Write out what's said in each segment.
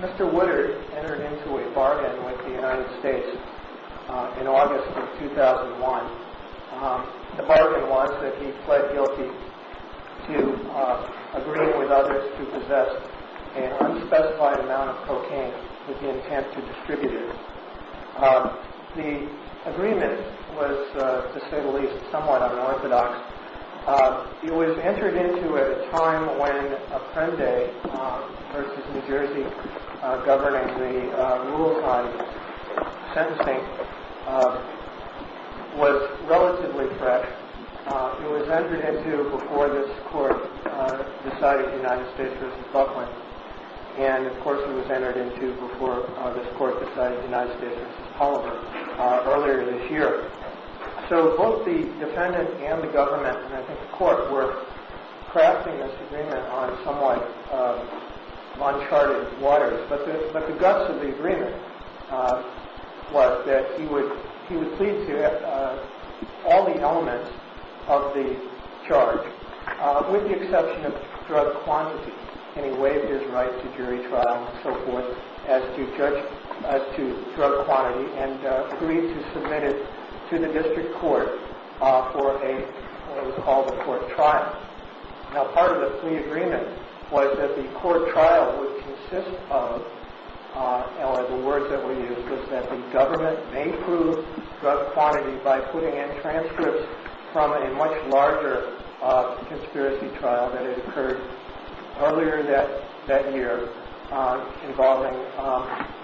Mr. Woodard entered into a bargain with the United States in August of 2001. The bargain was that he pled guilty to agreeing with others to possess an unspecified amount of cocaine with the intent to distribute it. The agreement was, to say the least, somewhat unorthodox. It was entered into at a time when Apprende v. New Jersey, governing the rules on sentencing, was relatively fresh. It was entered into before this court decided United States v. Buckland, and of course it was entered into before this court decided United States v. Polliver earlier this year. So both the defendant and the government, and I think the court, were crafting this agreement on somewhat uncharted waters. But the guts of the agreement was that he would plead to all the elements of the charge, with the exception of drug quantity, and he waived his right to jury trial and so forth as to drug quantity, and agreed to submit it to the district court for what was called a court trial. Now part of the plea agreement was that the court trial would consist of, the words that were used was that the government may prove drug quantity by putting in transcripts from a much larger conspiracy trial that had occurred earlier that year involving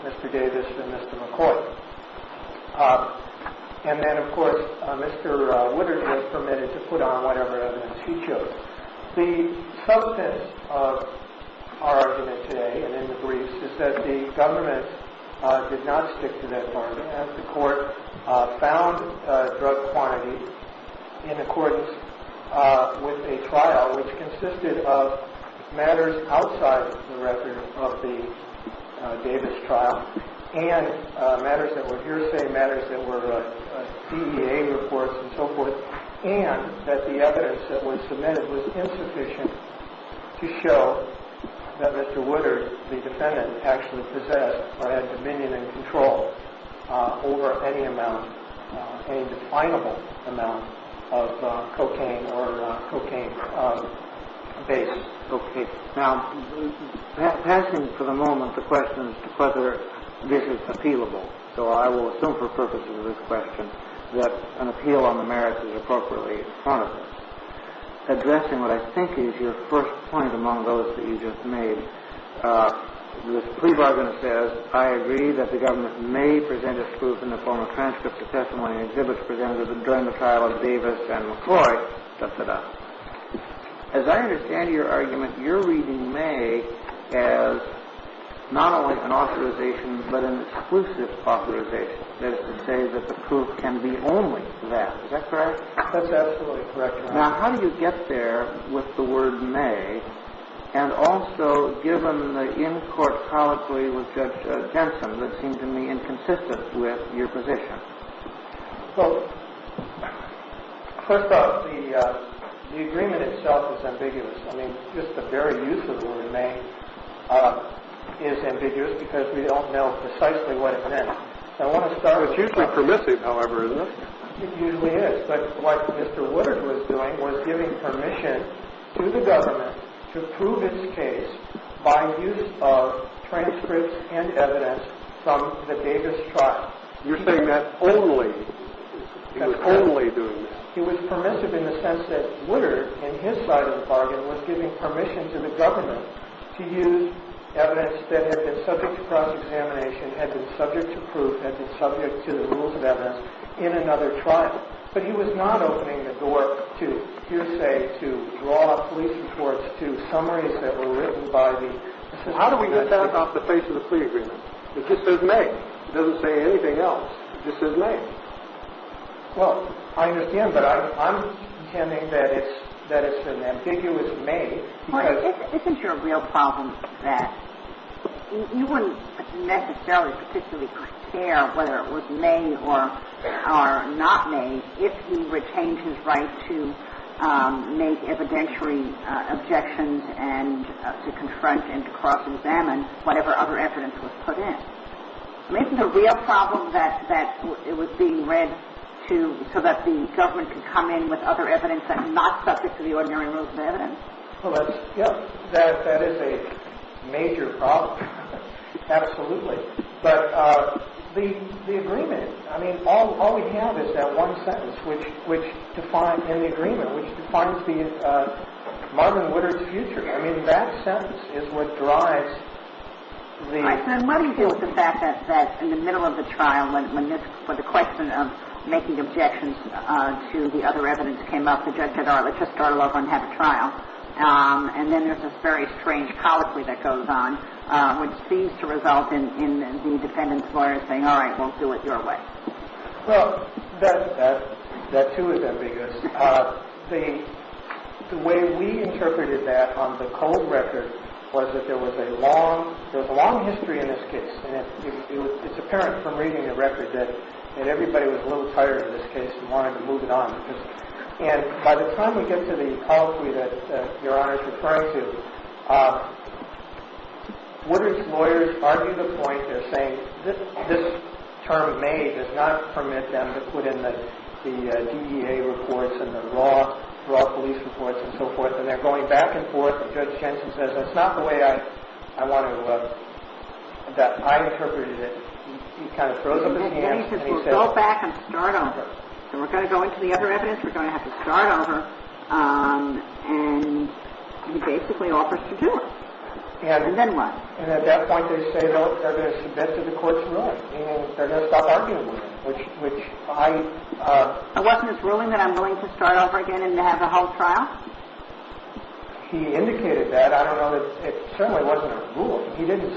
Mr. Davis and Mr. McCoy. And then of course Mr. Woodard was permitted to put on whatever evidence he chose. The substance of our argument today and in the briefs is that the government did not stick to that argument, and the court found drug quantity in accordance with a trial which consisted of matters outside the record of the Davis trial, and matters that were hearsay, matters that were CEA reports and so forth, and that the evidence that was submitted was insufficient to show that Mr. Woodard, the defendant, actually possessed or had dominion and control over any amount, any definable amount of cocaine or cocaine-based cocaine. Now, passing for the moment the question as to whether this is appealable, so I will assume for purposes of this question that an appeal on the merits is appropriately front of us. Addressing what I think is your first point among those that you just made, this plea bargain that says, I agree that the government may present its proof in the form of transcripts of testimony and exhibits presented during the trial of Davis and McCoy, da-da-da. As I understand your argument, you're reading may as not only an authorization but an exclusive authorization. That is to say that the proof can be only that. Is that correct? That's absolutely correct, Your Honor. Now, how do you get there with the word may and also given the in-court colloquy with Judge Jensen that seemed to me inconsistent with your position? Well, first off, the agreement itself is ambiguous. I mean, just the very use of the word may is ambiguous because we don't know precisely what it meant. It's usually permissive, however, isn't it? It usually is. But what Mr. Woodard was doing was giving permission to the government to prove its case by use of transcripts and evidence from the Davis trial. You're saying that only? He was only doing that? He was permissive in the sense that Woodard, in his side of the bargain, was giving permission to the government to use evidence that had been subject to cross-examination, had been subject to proof, had been subject to the rules of evidence, in another trial. But he was not opening the door to hearsay, to raw police reports, to summaries that were written by the assistant attorney. How do we get that off the face of the plea agreement? It just says may. It doesn't say anything else. It just says may. Well, I understand, but I'm intending that it's an ambiguous may. Well, isn't your real problem that you wouldn't necessarily particularly care whether it was may or not may if he retained his right to make evidentiary objections and to confront and to cross-examine whatever other evidence was put in? Isn't the real problem that it was being read to so that the government could come in with other evidence that's not subject to the ordinary rules of evidence? That is a major problem, absolutely. But the agreement, I mean, all we have is that one sentence in the agreement, which defines Marvin Woodard's future. I mean, that sentence is what drives the... All right, so let me deal with the fact that in the middle of the trial, when the question of making objections to the other evidence came up, the judge said, all right, let's just start all over and have a trial. And then there's this very strange colloquy that goes on, which seems to result in the defendant's lawyer saying, all right, we'll do it your way. Well, that, too, is ambiguous. The way we interpreted that on the code record was that there was a long history in this case. And it's apparent from reading the record that everybody was a little tired of this case and wanted to move it on. And by the time we get to the colloquy that Your Honor is referring to, Woodard's lawyers argue the point. They're saying this term, may, does not permit them to put in the DEA reports and the law police reports and so forth. And they're going back and forth. And Judge Jensen says, that's not the way I want to look at that. I interpreted it. He kind of froze his hands. And he says, we'll go back and start over. So we're going to go into the other evidence. We're going to have to start over. And he basically offers to do it. And then what? And at that point, they say they're going to submit to the court's ruling. And they're going to stop arguing with him, which I am. So wasn't this ruling that I'm going to start over again and have the whole trial? He indicated that. I don't know. It certainly wasn't a ruling. He didn't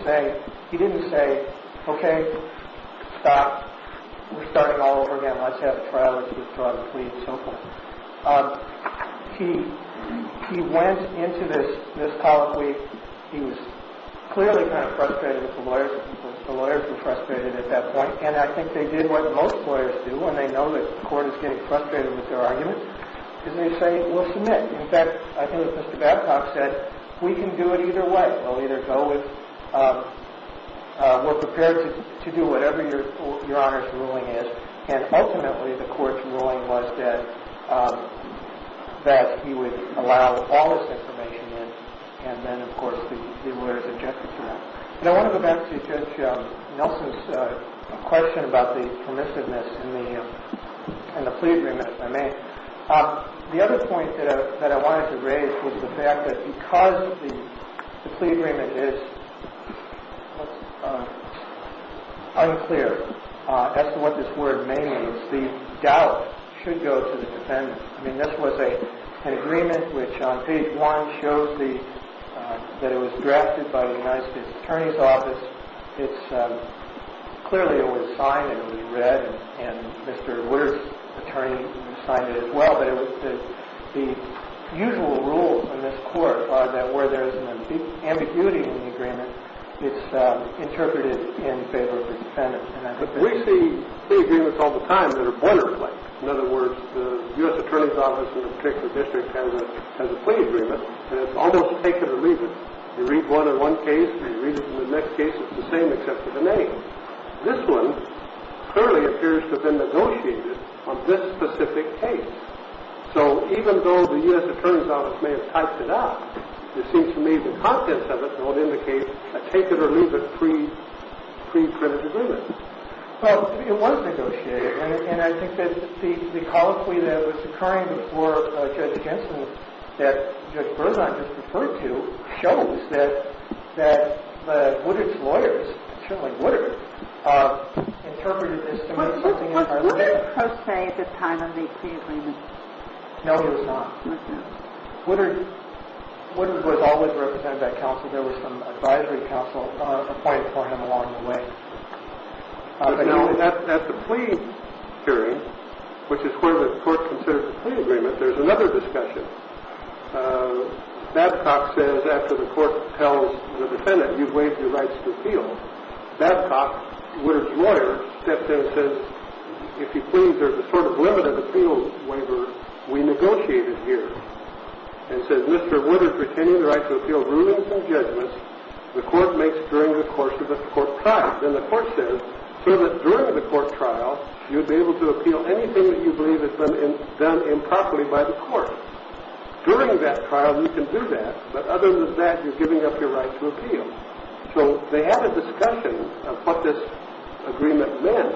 say, OK, stop. We're starting all over again. Let's have a trial. Let's withdraw the plea and so forth. He went into this colloquy. He was clearly kind of frustrated with the lawyers. The lawyers were frustrated at that point. And I think they did what most lawyers do when they know that the court is getting frustrated with their arguments. And they say, we'll submit. In fact, I think what Mr. Babcock said, we can do it either way. We'll either go with, we're prepared to do whatever your Honor's ruling is. And ultimately, the court's ruling was that he would allow all this information in. And then, of course, the lawyers objected to that. One of the benefits of Nelson's question about the permissiveness and the plea agreement, if I may, the other point that I wanted to raise was the fact that because the plea agreement is unclear as to what this word may mean, the doubt should go to the defendant. I mean, this was an agreement which on page one shows that it was drafted by the United States Attorney's Office. It's clearly it was signed and it was read. And Mr. Woodard's attorney signed it as well. But the usual rules in this court are that where there's an ambiguity in the agreement, it's interpreted in favor of the defendant. But we see plea agreements all the time that are borderline. In other words, the U.S. Attorney's Office in a particular district has a plea agreement and it's almost take it or leave it. You read one in one case and you read it in the next case, it's the same except for the name. This one clearly appears to have been negotiated on this specific case. So even though the U.S. Attorney's Office may have typed it up, it seems to me the contents of it don't indicate a take it or leave it preprinted agreement. Well, it was negotiated. And I think that the colloquy that was occurring before Judge Jensen that Judge Berzon just referred to shows that Woodard's lawyers, certainly Woodard, interpreted this to mean something entirely different. Was Woodard pro se at the time of the plea agreement? No, he was not. Was he? Woodard was always represented by counsel. There was some advisory counsel appointed for him along the way. Now, at the plea hearing, which is where the court considers the plea agreement, there's another discussion. Babcock says after the court tells the defendant you've waived your rights to appeal, Babcock, Woodard's lawyer, steps in and says, if you please, there's a sort of limited appeal waiver we negotiated here. And says, Mr. Woodard's retaining the right to appeal, rulings and judgments the court makes during the course of the court trial. Then the court says, so that during the court trial, you'd be able to appeal anything that you believe has been done improperly by the court. During that trial, you can do that. But other than that, you're giving up your right to appeal. So they had a discussion of what this agreement meant.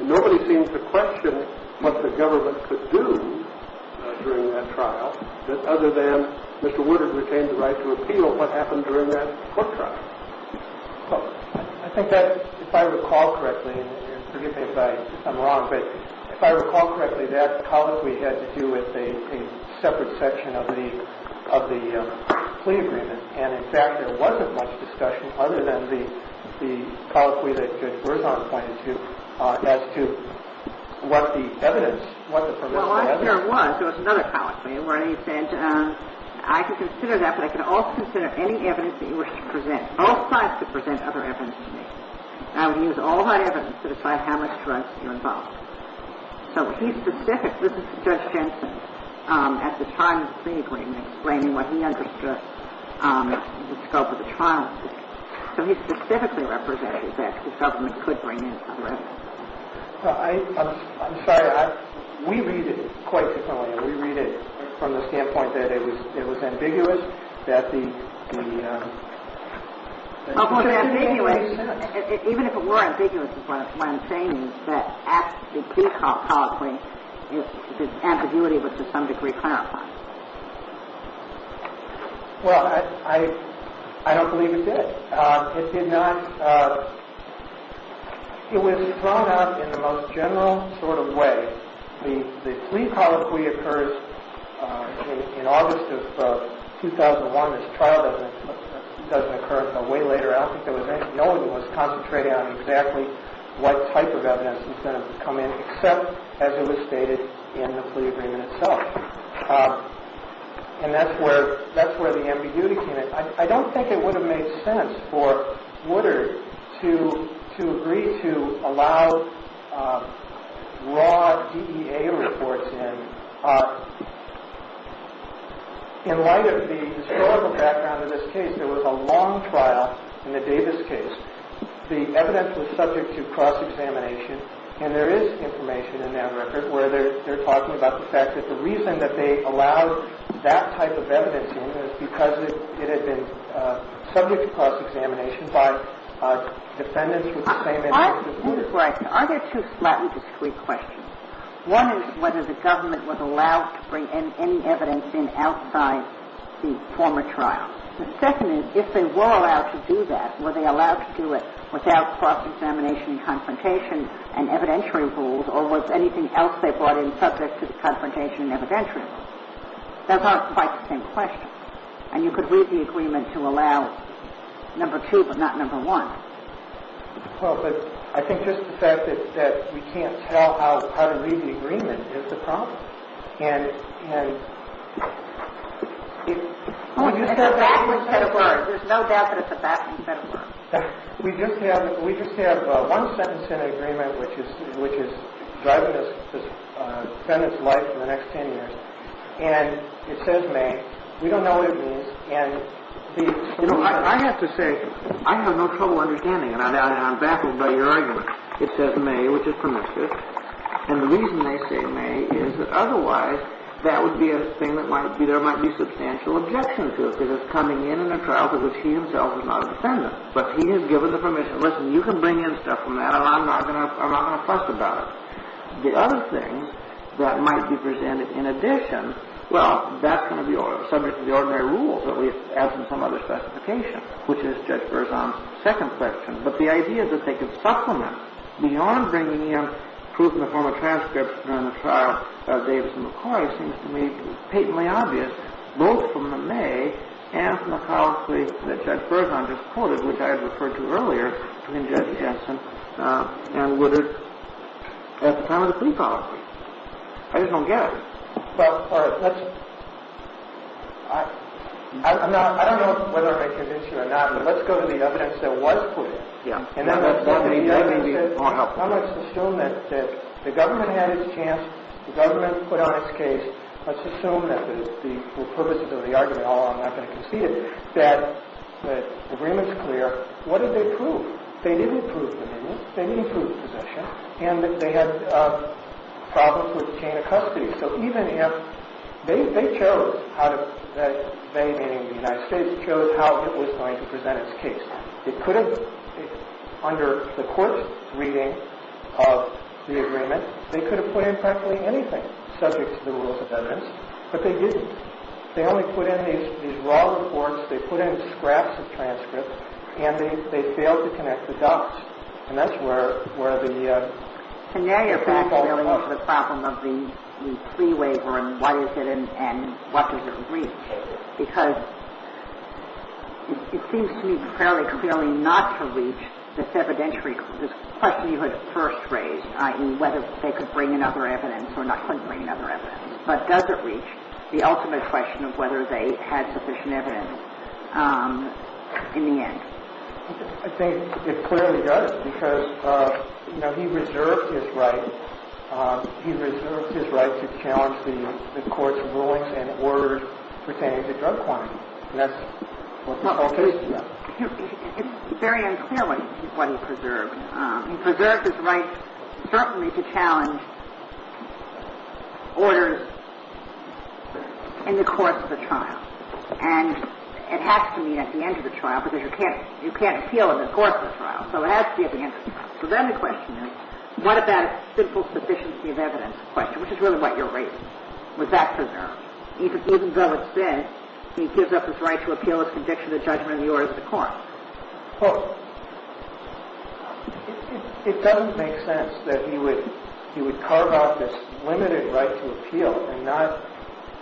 And nobody seems to question what the government could do during that trial other than Mr. Woodard retained the right to appeal. What happened during that court trial? Well, I think that, if I recall correctly, and forgive me if I'm wrong, but if I recall correctly, that colloquy had to do with a separate section of the plea agreement. And, in fact, there wasn't much discussion other than the colloquy that Judge Berzon pointed to as to what the evidence, what the provisional evidence. Well, I'm sure there was. There was another colloquy where he said, I can consider that, but I can also consider any evidence that you wish to present. Both sides could present other evidence to me. And I would use all my evidence to decide how much trust you involve. So he's specific. This is Judge Jensen at the time of the plea agreement, explaining what he understood in the scope of the trial. So he specifically represented that the government could bring in other evidence. I'm sorry. We read it quite differently. We read it from the standpoint that it was ambiguous, that the ‑‑ Even if it were ambiguous is what I'm saying is that at the plea colloquy, the ambiguity was to some degree clarified. Well, I don't believe it did. It did not ‑‑ it was thrown out in the most general sort of way. The plea colloquy occurs in August of 2001. This trial doesn't occur until way later. I don't think there was anyone who was concentrating on exactly what type of evidence was going to come in, except as it was stated in the plea agreement itself. And that's where the ambiguity came in. I don't think it would have made sense for Woodard to agree to allow raw DEA reports in. In light of the historical background of this case, there was a long trial in the Davis case. The evidence was subject to cross-examination, and there is information in that record where they're talking about the fact that the reason that they allowed that type of evidence in is because it had been subject to cross-examination by defendants with the same interests as Woodard. Right. Are there two slightly discrete questions? One is whether the government was allowed to bring in any evidence in outside the former trial. The second is, if they were allowed to do that, were they allowed to do it without cross-examination and confrontation and evidentiary rules, or was anything else they brought in subject to confrontation and evidentiary rules? Those aren't quite the same questions. And you could read the agreement to allow number two, but not number one. Well, but I think just the fact that we can't tell how to read the agreement is the problem. And it's a backwards set of words. There's no doubt that it's a backwards set of words. We just have one sentence in the agreement which is driving this defendant's life for the next 10 years. And it says may. We don't know what it means. You know, I have to say, I have no trouble understanding it. I'm baffled by your argument. It says may, which is permissive. And the reason they say may is that otherwise that would be a thing that there might be substantial objection to, because he himself is not a defendant. But he has given the permission. Listen, you can bring in stuff from that, and I'm not going to fuss about it. The other thing that might be presented in addition, well, that's going to be subject to the ordinary rules, at least as in some other specification, which is Judge Berzon's second question. But the idea that they could supplement beyond bringing in proof in the form of transcripts during the trial of Davison McCoy seems to me patently obvious, both from the may and from the policy that Judge Berzon just quoted, which I referred to earlier between Judge Jensen and Woodard, at the time of the plea policy. I just don't get it. I don't know whether I'm going to convince you or not, but let's go to the evidence that was put in. And then let's go to the evidence that was put in. I'm going to assume that the government had its chance. The government put on its case. Let's assume that the purpose of the argument, although I'm not going to concede it, that the agreement's clear. What did they prove? They didn't prove the amendment. They didn't prove possession. And they had problems with the chain of custody. So even if they chose, they meaning the United States, chose how it was going to present its case. It could have, under the court's reading of the agreement, they could have put in practically anything subject to the rules of evidence. But they didn't. They only put in these raw reports. They put in scraps of transcripts. And they failed to connect the dots. And that's where the fall off. And that, in fact, really is the problem of the pre-waiver and what is it and what does it reach. Because it seems to me fairly clearly not to reach this evidentiary, this question you had first raised, i.e., whether they could bring in other evidence or not bring in other evidence. But does it reach the ultimate question of whether they had sufficient evidence in the end? I think it clearly does. Because, you know, he reserved his right. He reserved his right to challenge the court's rulings and orders pertaining to drug quantity. And that's what the case is about. It's very unclear what he preserved. He preserved his right certainly to challenge orders in the course of the trial. And it has to meet at the end of the trial because you can't appeal in the course of the trial. So it has to be at the end of the trial. So then the question is, what about a simple sufficiency of evidence question, which is really what you're raising? Was that preserved? Even though it's said he gives up his right to appeal as a conjecture to the judgment of the orders of the court. Well, it doesn't make sense that he would carve out this limited right to appeal and not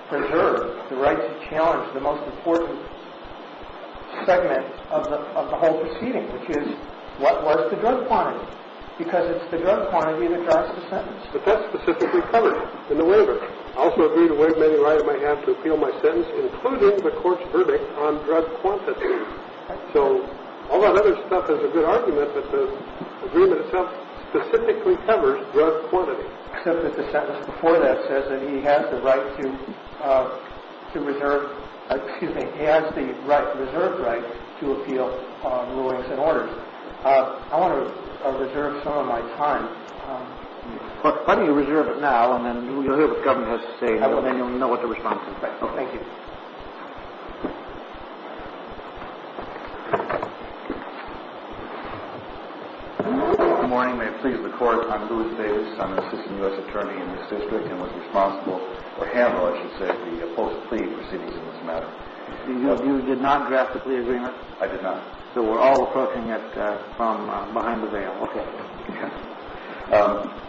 preserve the right to challenge the most important segment of the whole proceeding, which is, what was the drug quantity? Because it's the drug quantity that drives the sentence. But that's specifically covered in the waiver. I also agree to waive any right I have to appeal my sentence, including the court's verdict on drug quantity. So all that other stuff is a good argument, but the agreement itself specifically covers drug quantity. Except that the sentence before that says that he has the right to reserve, excuse me, has the reserved right to appeal on rulings and orders. I want to reserve some of my time. Why don't you reserve it now, and then you'll hear what the Governor has to say, and then you'll know what to respond to. Thank you. Good morning. May it please the Court. I'm Louis Davis. I'm an assistant U.S. attorney in this district and was responsible for handling, I should say, the post plea proceedings in this matter. You did not draft the plea agreement? I did not. So we're all approaching it from behind the veil. Okay.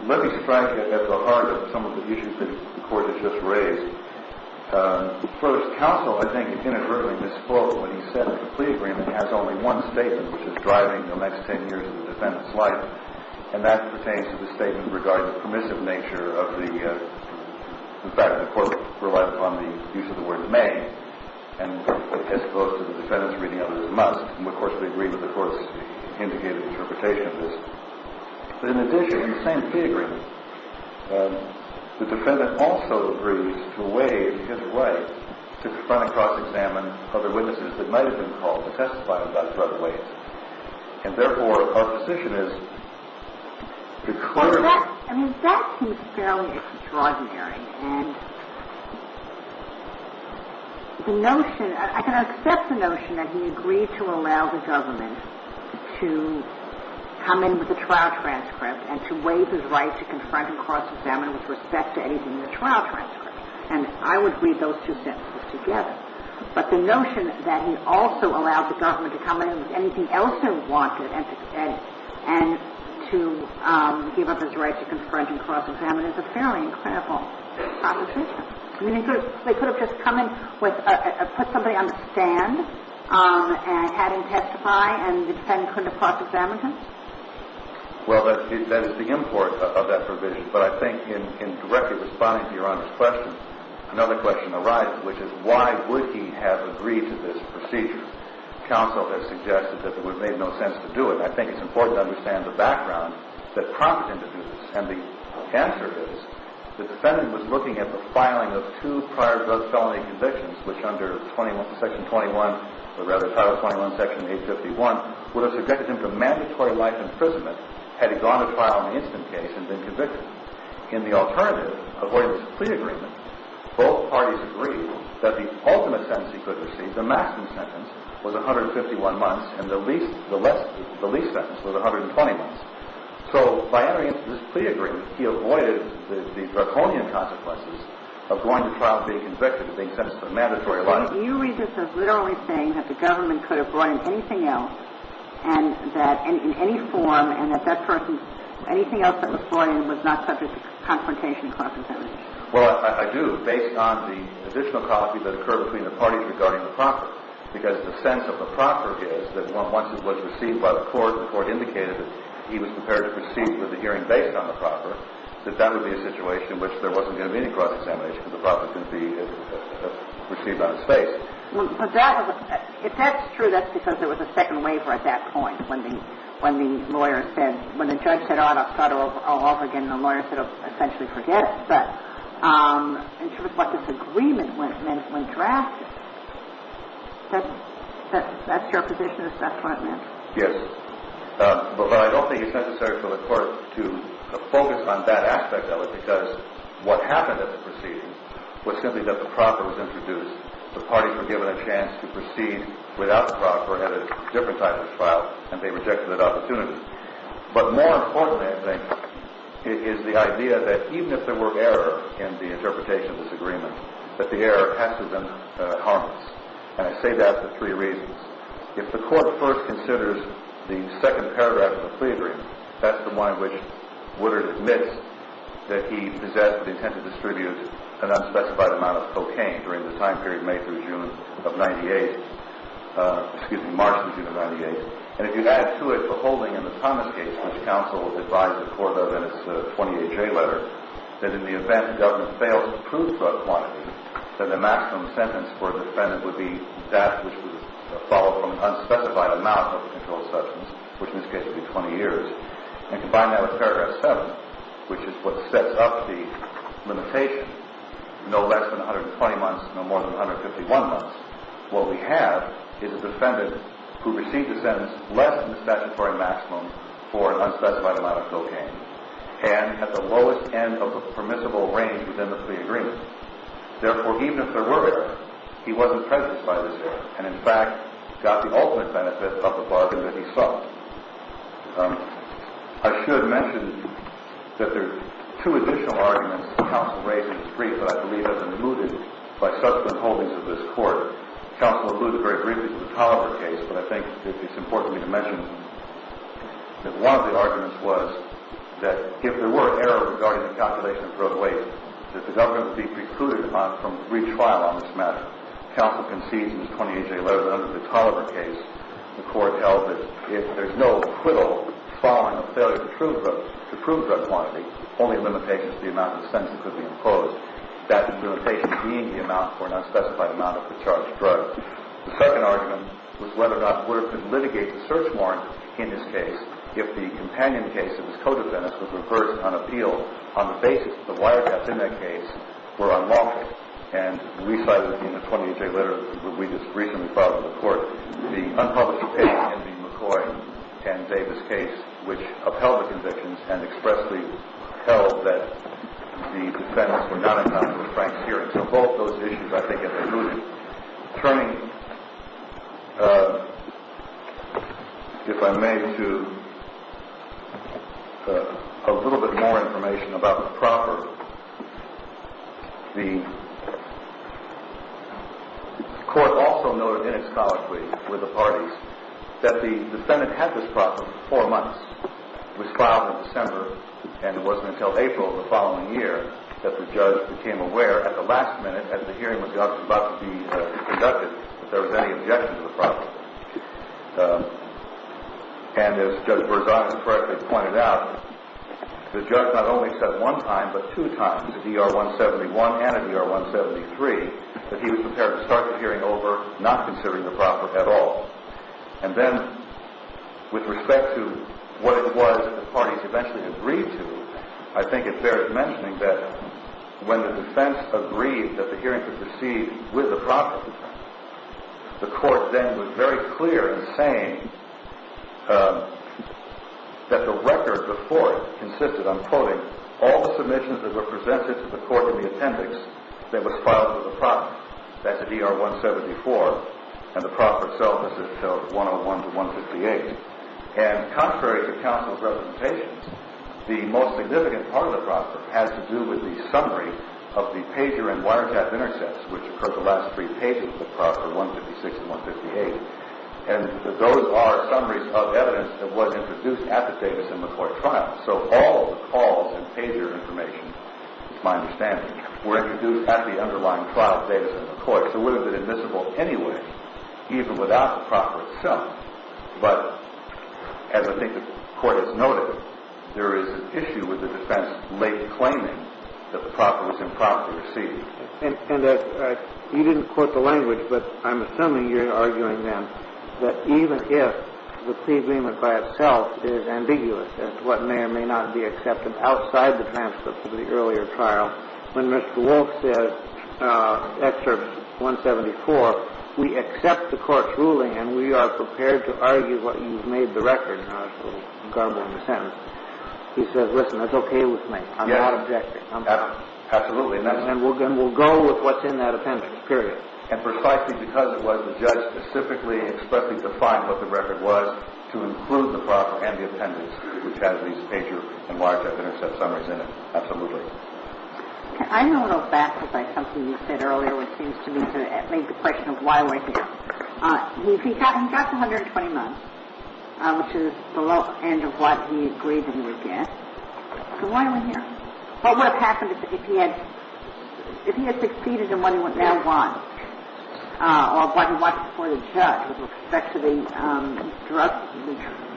Let me strike at the heart of some of the issues that the Court has just raised. First, counsel, I think, inadvertently misspoke when he said that the plea agreement has only one statement, which is driving the next 10 years of the defendant's life, and that pertains to the statement regarding the permissive nature of the fact that the Court relied upon the use of the word may as opposed to the defendant's reading of it as a must. And, of course, we agree with the Court's indicated interpretation of this. But in addition, in the same plea agreement, the defendant also agrees to waive his right to confront and cross-examine other witnesses that might have been called to testify about drug wages. And, therefore, our position is to clarify. I mean, that seems fairly extraordinary. And the notion – I can accept the notion that he agreed to allow the government to come in with a trial transcript and to waive his right to confront and cross-examine with respect to anything in the trial transcript. And I would read those two sentences together. But the notion that he also allowed the government to come in with anything else they wanted and to give up his right to confront and cross-examine is a fairly incredible proposition. I mean, they could have just come in with – put somebody on the stand and had him testify, and the defendant couldn't have cross-examined him? Well, that is the import of that provision. But I think in directly responding to Your Honor's question, another question arises, which is why would he have agreed to this procedure? Counsel has suggested that it would have made no sense to do it. And I think it's important to understand the background that prompted him to do this. And the answer is the defendant was looking at the filing of two prior drug felony convictions, which under Section 21 – or, rather, Title 21, Section 851, would have subjected him to mandatory life imprisonment had he gone to trial in the instant case and been convicted. In the alternative, avoidance of plea agreement, both parties agreed that the ultimate sentence he could receive, the maximum sentence, was 151 months, and the least sentence was 120 months. So by entering into this plea agreement, he avoided the draconian consequences of going to trial and being convicted and being sentenced to mandatory life imprisonment. Do you read this as literally saying that the government could have brought in anything else and that in any form and that that person – anything else that was brought in was not subject to confrontation and cross-examination? Well, I do, based on the additional copies that occur between the parties regarding the proffer. Because the sense of the proffer is that once it was received by the court, the court indicated that he was prepared to proceed with the hearing based on the proffer, that that would be a situation in which there wasn't going to be any cross-examination because the proffer couldn't be received on his face. But that was – if that's true, that's because there was a second waiver at that point when the – when the lawyer said – when the judge said, I'll start all over again and the lawyer sort of essentially forgets, but in terms of what this agreement meant when drafted, that's your position, is that correct, ma'am? Yes. But I don't think it's necessary for the court to focus on that aspect of it because what happened at the proceedings was simply that the proffer was introduced. The parties were given a chance to proceed without the proffer at a different type of trial and they rejected that opportunity. But more importantly, I think, is the idea that even if there were error in the interpretation of this agreement, that the error has to have been harmless. And I say that for three reasons. If the court first considers the second paragraph of the plea agreement, that's the one in which Woodard admits that he possessed the intent to distribute an unspecified amount of cocaine during the time period May through June of 98 – excuse me, March through June of 98. And if you add to it the holding in the Thomas case, which counsel advised the court of in its 28J letter, that in the event the government fails to prove such quantity, that the maximum sentence for a defendant would be death, which would follow from an unspecified amount of controlled substance, which in this case would be 20 years. And combine that with paragraph 7, which is what sets up the limitation, no less than 120 months, no more than 151 months. What we have is a defendant who received a sentence less than the statutory maximum for an unspecified amount of cocaine and at the lowest end of the permissible range within the plea agreement. Therefore, even if there were error, he wasn't prejudiced by this error and, in fact, got the ultimate benefit of the bargain that he sought. I should mention that there are two additional arguments that counsel raised that I believe have been mooted by subsequent holdings of this court. Counsel included very briefly the Tolliver case, but I think it's important for me to mention that one of the arguments was that if there were an error regarding the calculation of drug waste, that the government would be precluded from each trial on this matter. Counsel concedes in his 28J letter that under the Tolliver case, the court held that if there's no acquittal following a failure to prove drug quantity, only limitations to the amount of expenses could be imposed, that limitations being the amount for an unspecified amount of the charged drug. The second argument was whether or not Woodard could litigate the search warrant in his case if the companion case of his co-defendants was reversed on appeal on the basis that the wiretaps in that case were unlawful. And we cite in the 28J letter that we just recently filed in the court the unpublished opinion in the McCoy and Davis case, which upheld the convictions and expressly held that the defendants were not involved in a frank hearing. So both those issues, I think, have been proven. Turning, if I may, to a little bit more information about the proper – was filed in December, and it wasn't until April of the following year that the judge became aware at the last minute, as the hearing was about to be conducted, that there was any objection to the proper. And as Judge Berzon correctly pointed out, the judge not only said one time, but two times, at ER 171 and at ER 173, that he was prepared to start the hearing over not considering the proper at all. And then, with respect to what it was that the parties eventually agreed to, I think it bears mentioning that when the defense agreed that the hearing could proceed with the proper, the court then was very clear in saying that the record before it consisted of, I'm quoting, all the submissions that were presented to the court in the appendix that was filed with the proper. That's at ER 174, and the proper itself is at 101 to 158. And contrary to counsel's representations, the most significant part of the proper has to do with the summary of the pager and wiretap intercepts, which occur at the last three pages of the proper, 156 and 158. And those are summaries of evidence that was introduced at the Davis & McCoy trial. So all of the calls and pager information, it's my understanding, were introduced at the underlying trial at Davis & McCoy. So it would have been admissible anyway, even without the proper itself. But as I think the court has noted, there is an issue with the defense late claiming that the proper was improperly received. And you didn't quote the language, but I'm assuming you're arguing then that even if the pre-agreement by itself is ambiguous as to what may or may not be accepted outside the transcript of the earlier trial, when Mr. Wolfe said, excerpt 174, we accept the court's ruling and we are prepared to argue what you've made the record. I was a little garbled in the sentence. He said, listen, that's okay with me. I'm not objecting. I'm fine. Absolutely. And we'll go with what's in that appendix, period. And precisely because it was, the judge specifically explicitly defined what the record was to include the proper and the appendix, which has these pager and wiretap intercept summaries in it. Absolutely. I'm a little baffled by something you said earlier, which seems to me to raise the question of why we're here. He got the 120 months, which is below the end of what he agreed he would get. So why are we here? What would have happened if he had succeeded in what he now wants, or what he wants for the judge with respect to the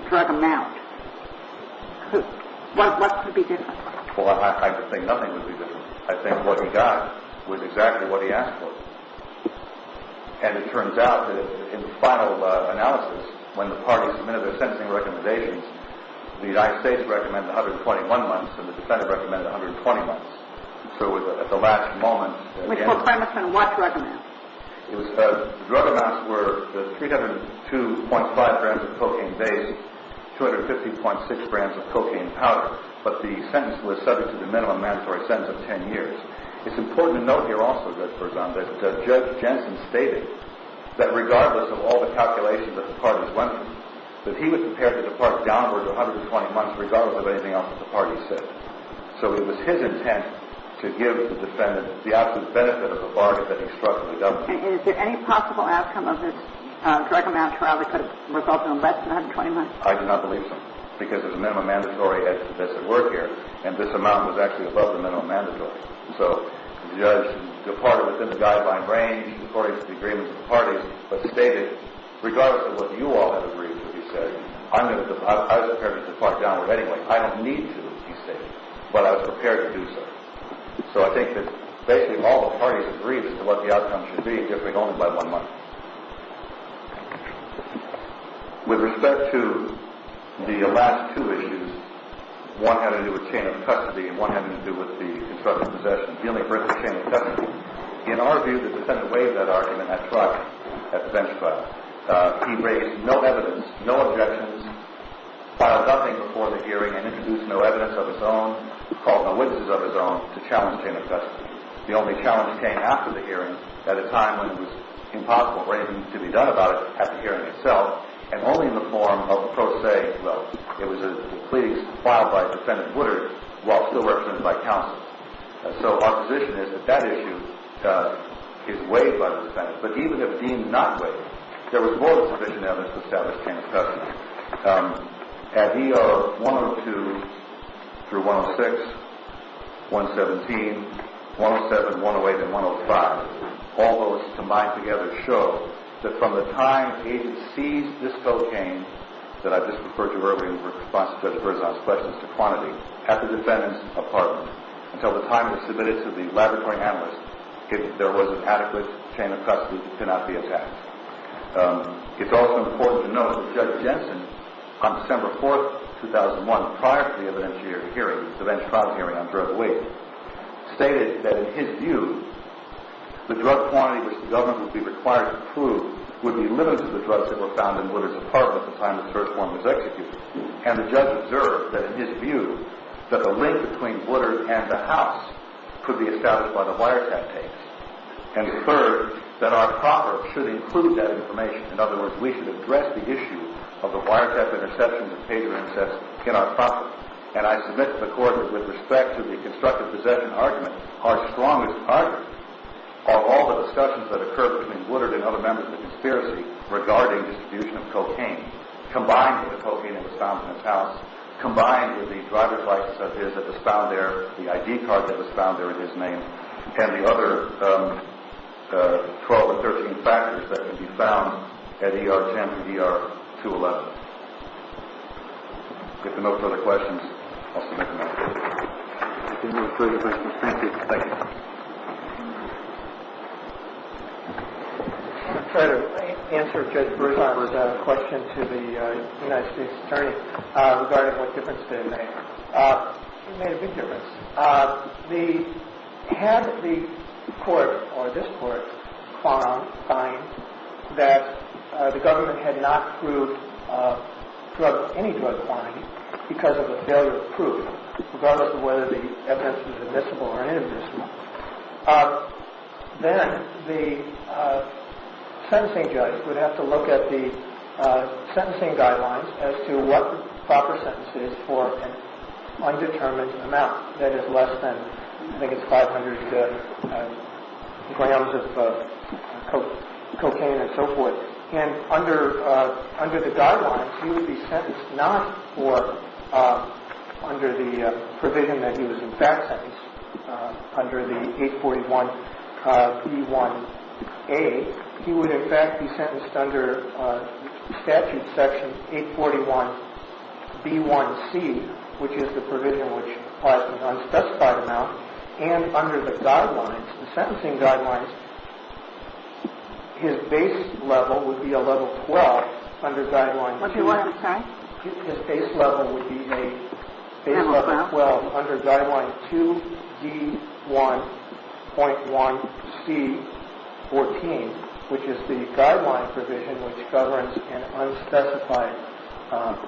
drug amount? What would be different? Well, I think nothing would be different. I think what he got was exactly what he asked for. And it turns out that in the final analysis, when the parties submitted their sentencing recommendations, the United States recommended 121 months, and the defendant recommended 120 months. So at the last moment, the answer was the drug amounts were 302.5 grams of cocaine base, 250.6 grams of cocaine powder. But the sentence was subject to the minimum mandatory sentence of 10 years. It's important to note here also, Judge Berzon, that Judge Jensen stated that regardless of all the calculations that the parties went through, that he was prepared to depart downward of 120 months regardless of anything else that the parties said. So it was his intent to give the defendant the absolute benefit of the bargain that he struck with the government. And is there any possible outcome of this drug amount trial that could have resulted in less than 120 months? I do not believe so. Because of the minimum mandatory that's at work here, and this amount was actually above the minimum mandatory. So the judge departed within the guideline range according to the agreements of the parties, but stated regardless of what you all had agreed to, he said, I was prepared to depart downward anyway. I didn't need to, he stated, but I was prepared to do so. So I think that basically all the parties agreed as to what the outcome should be if it only led one month. With respect to the last two issues, one had to do with chain of custody and one had to do with the construction of possession. The only person in the chain of custody, in our view, the defendant waived that argument at trial at the bench trial. He raised no evidence, no objections, filed nothing before the hearing, and introduced no evidence of his own, called no witnesses of his own to challenge chain of custody. The only challenge came after the hearing at a time when it was impossible for anything to be done about it at the hearing itself, and only in the form of pro se. Well, it was a plea filed by Defendant Woodard while still represented by counsel. So our position is that that issue is waived by the defendant, but even if deemed not waived, there was more than sufficient evidence to establish chain of custody. At E.R. 102 through 106, 117, 107, 108, and 105, all those combined together show that from the time the agent seized this cocaine that I just referred to earlier in response to Judge Berzon's questions to quantity at the defendant's apartment until the time it was submitted to the laboratory analyst, there was an adequate chain of custody that could not be attacked. It's also important to note that Judge Jensen, on December 4th, 2001, prior to the evidentiary hearing, the bench trial hearing on drug abuse, stated that in his view the drug quantity which the government would be required to prove would be limited to the drugs that were found in Woodard's apartment at the time the first one was executed. And the judge observed that in his view that the link between Woodard and the house could be established by the wiretap case. And third, that our proverbs should include that information. In other words, we should address the issue of the wiretap interceptions and pager insets in our proverbs. And I submit to the Court that with respect to the constructive possession argument, our strongest argument are all the discussions that occurred between Woodard and other members of the conspiracy regarding distribution of cocaine, combined with the cocaine that was found in his house, combined with the driver's license that was found there, the ID card that was found there in his name, and the other 12 or 13 factors that can be found at ER-10 and ER-211. If there are no further questions, I'll submit them at this point. Thank you. I'll try to answer Judge Broussard's question to the United States Attorney regarding what difference it made. It made a big difference. Had the court or this court found that the government had not proved any drug crime because of a failure of proof, regardless of whether the evidence was admissible or inadmissible, then the sentencing judge would have to look at the sentencing guidelines as to what the proper sentence is for an undetermined amount that is less than, I think it's 500 grams of cocaine and so forth. And under the guidelines, he would be sentenced not for under the provision that he was in fact sentenced, under the 841B1A. He would in fact be sentenced under statute section 841B1C, which is the provision which provides the unspecified amount. And under the guidelines, the sentencing guidelines, his base level would be a level 12 under guideline 2. What did you want to say? His base level would be a base level 12 under guideline 2D1.1C14, which is the guideline provision which governs an unspecified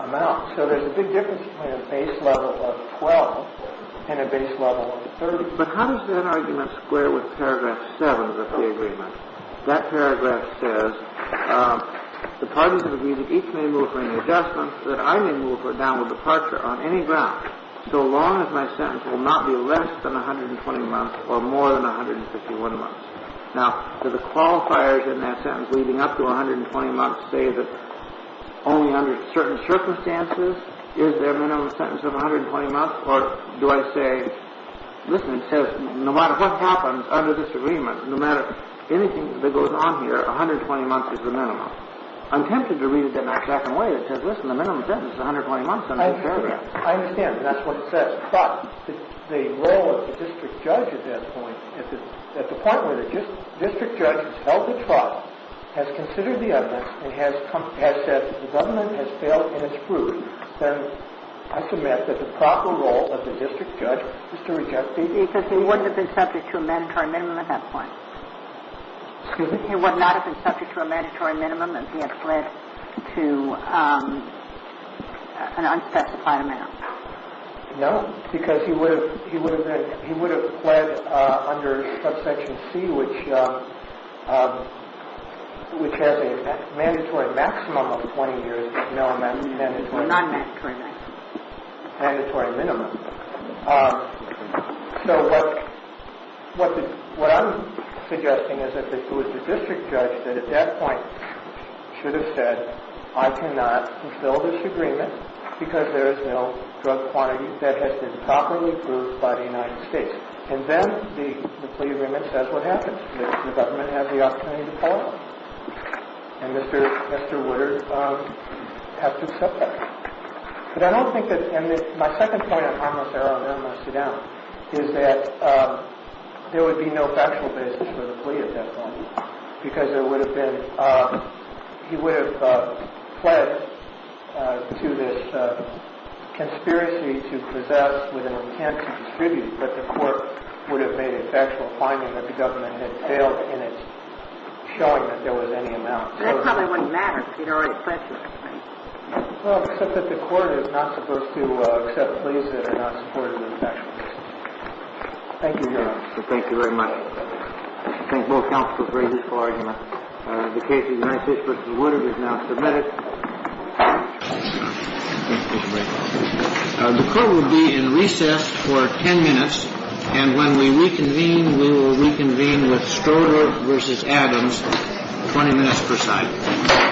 amount. So there's a big difference between a base level of 12 and a base level of 30. But how does that argument square with paragraph 7 of the agreement? That paragraph says, the parties of abuse each may move for any adjustments, so that I may move for a downward departure on any grounds, so long as my sentence will not be less than 120 months or more than 151 months. Now, do the qualifiers in that sentence leading up to 120 months say that only under certain circumstances is there a minimum sentence of 120 months? Or do I say, listen, it says no matter what happens under this agreement, no matter anything that goes on here, 120 months is the minimum. I'm tempted to read it in that second way that says, listen, the minimum sentence is 120 months under this program. I understand. That's what it says. But the role of the district judge at that point, at the point where the district judge has held the trial, has considered the evidence, and has said the government has failed in its fruit, then I submit that the proper role of the district judge is to reject the agreement. Because he wouldn't have been subject to a mandatory minimum at that point. Excuse me? He would not have been subject to a mandatory minimum if he had fled to an unspecified amount. No, because he would have fled under subsection C, which has a mandatory maximum of 20 years. Or a non-mandatory minimum. Mandatory minimum. So what I'm suggesting is that if it was the district judge that at that point should have said, I cannot fulfill this agreement because there is no drug quantity that has been properly approved by the United States, and then the plea agreement says what happens? The government has the opportunity to pull out. And Mr. Woodard has to accept that. But I don't think that, and my second point on harmless error, and then I'll sit down, is that there would be no factual basis for the plea at that point. Because there would have been, he would have fled to this conspiracy to possess with an intent to distribute, but the court would have made a factual finding that the government had failed in its showing that there was any amount. And it probably wouldn't matter because he had already pledged it. Well, except that the court is not supposed to accept pleas that are not supported in the factual basis. Thank you, Your Honor. Thank you very much. I think both counsels agree with this whole argument. The case of United States v. Woodard is now submitted. Thank you. The court will be in recess for 10 minutes. And when we reconvene, we will reconvene with Stoddard v. Adams, 20 minutes per side. Thank you. Thank you. Thank you.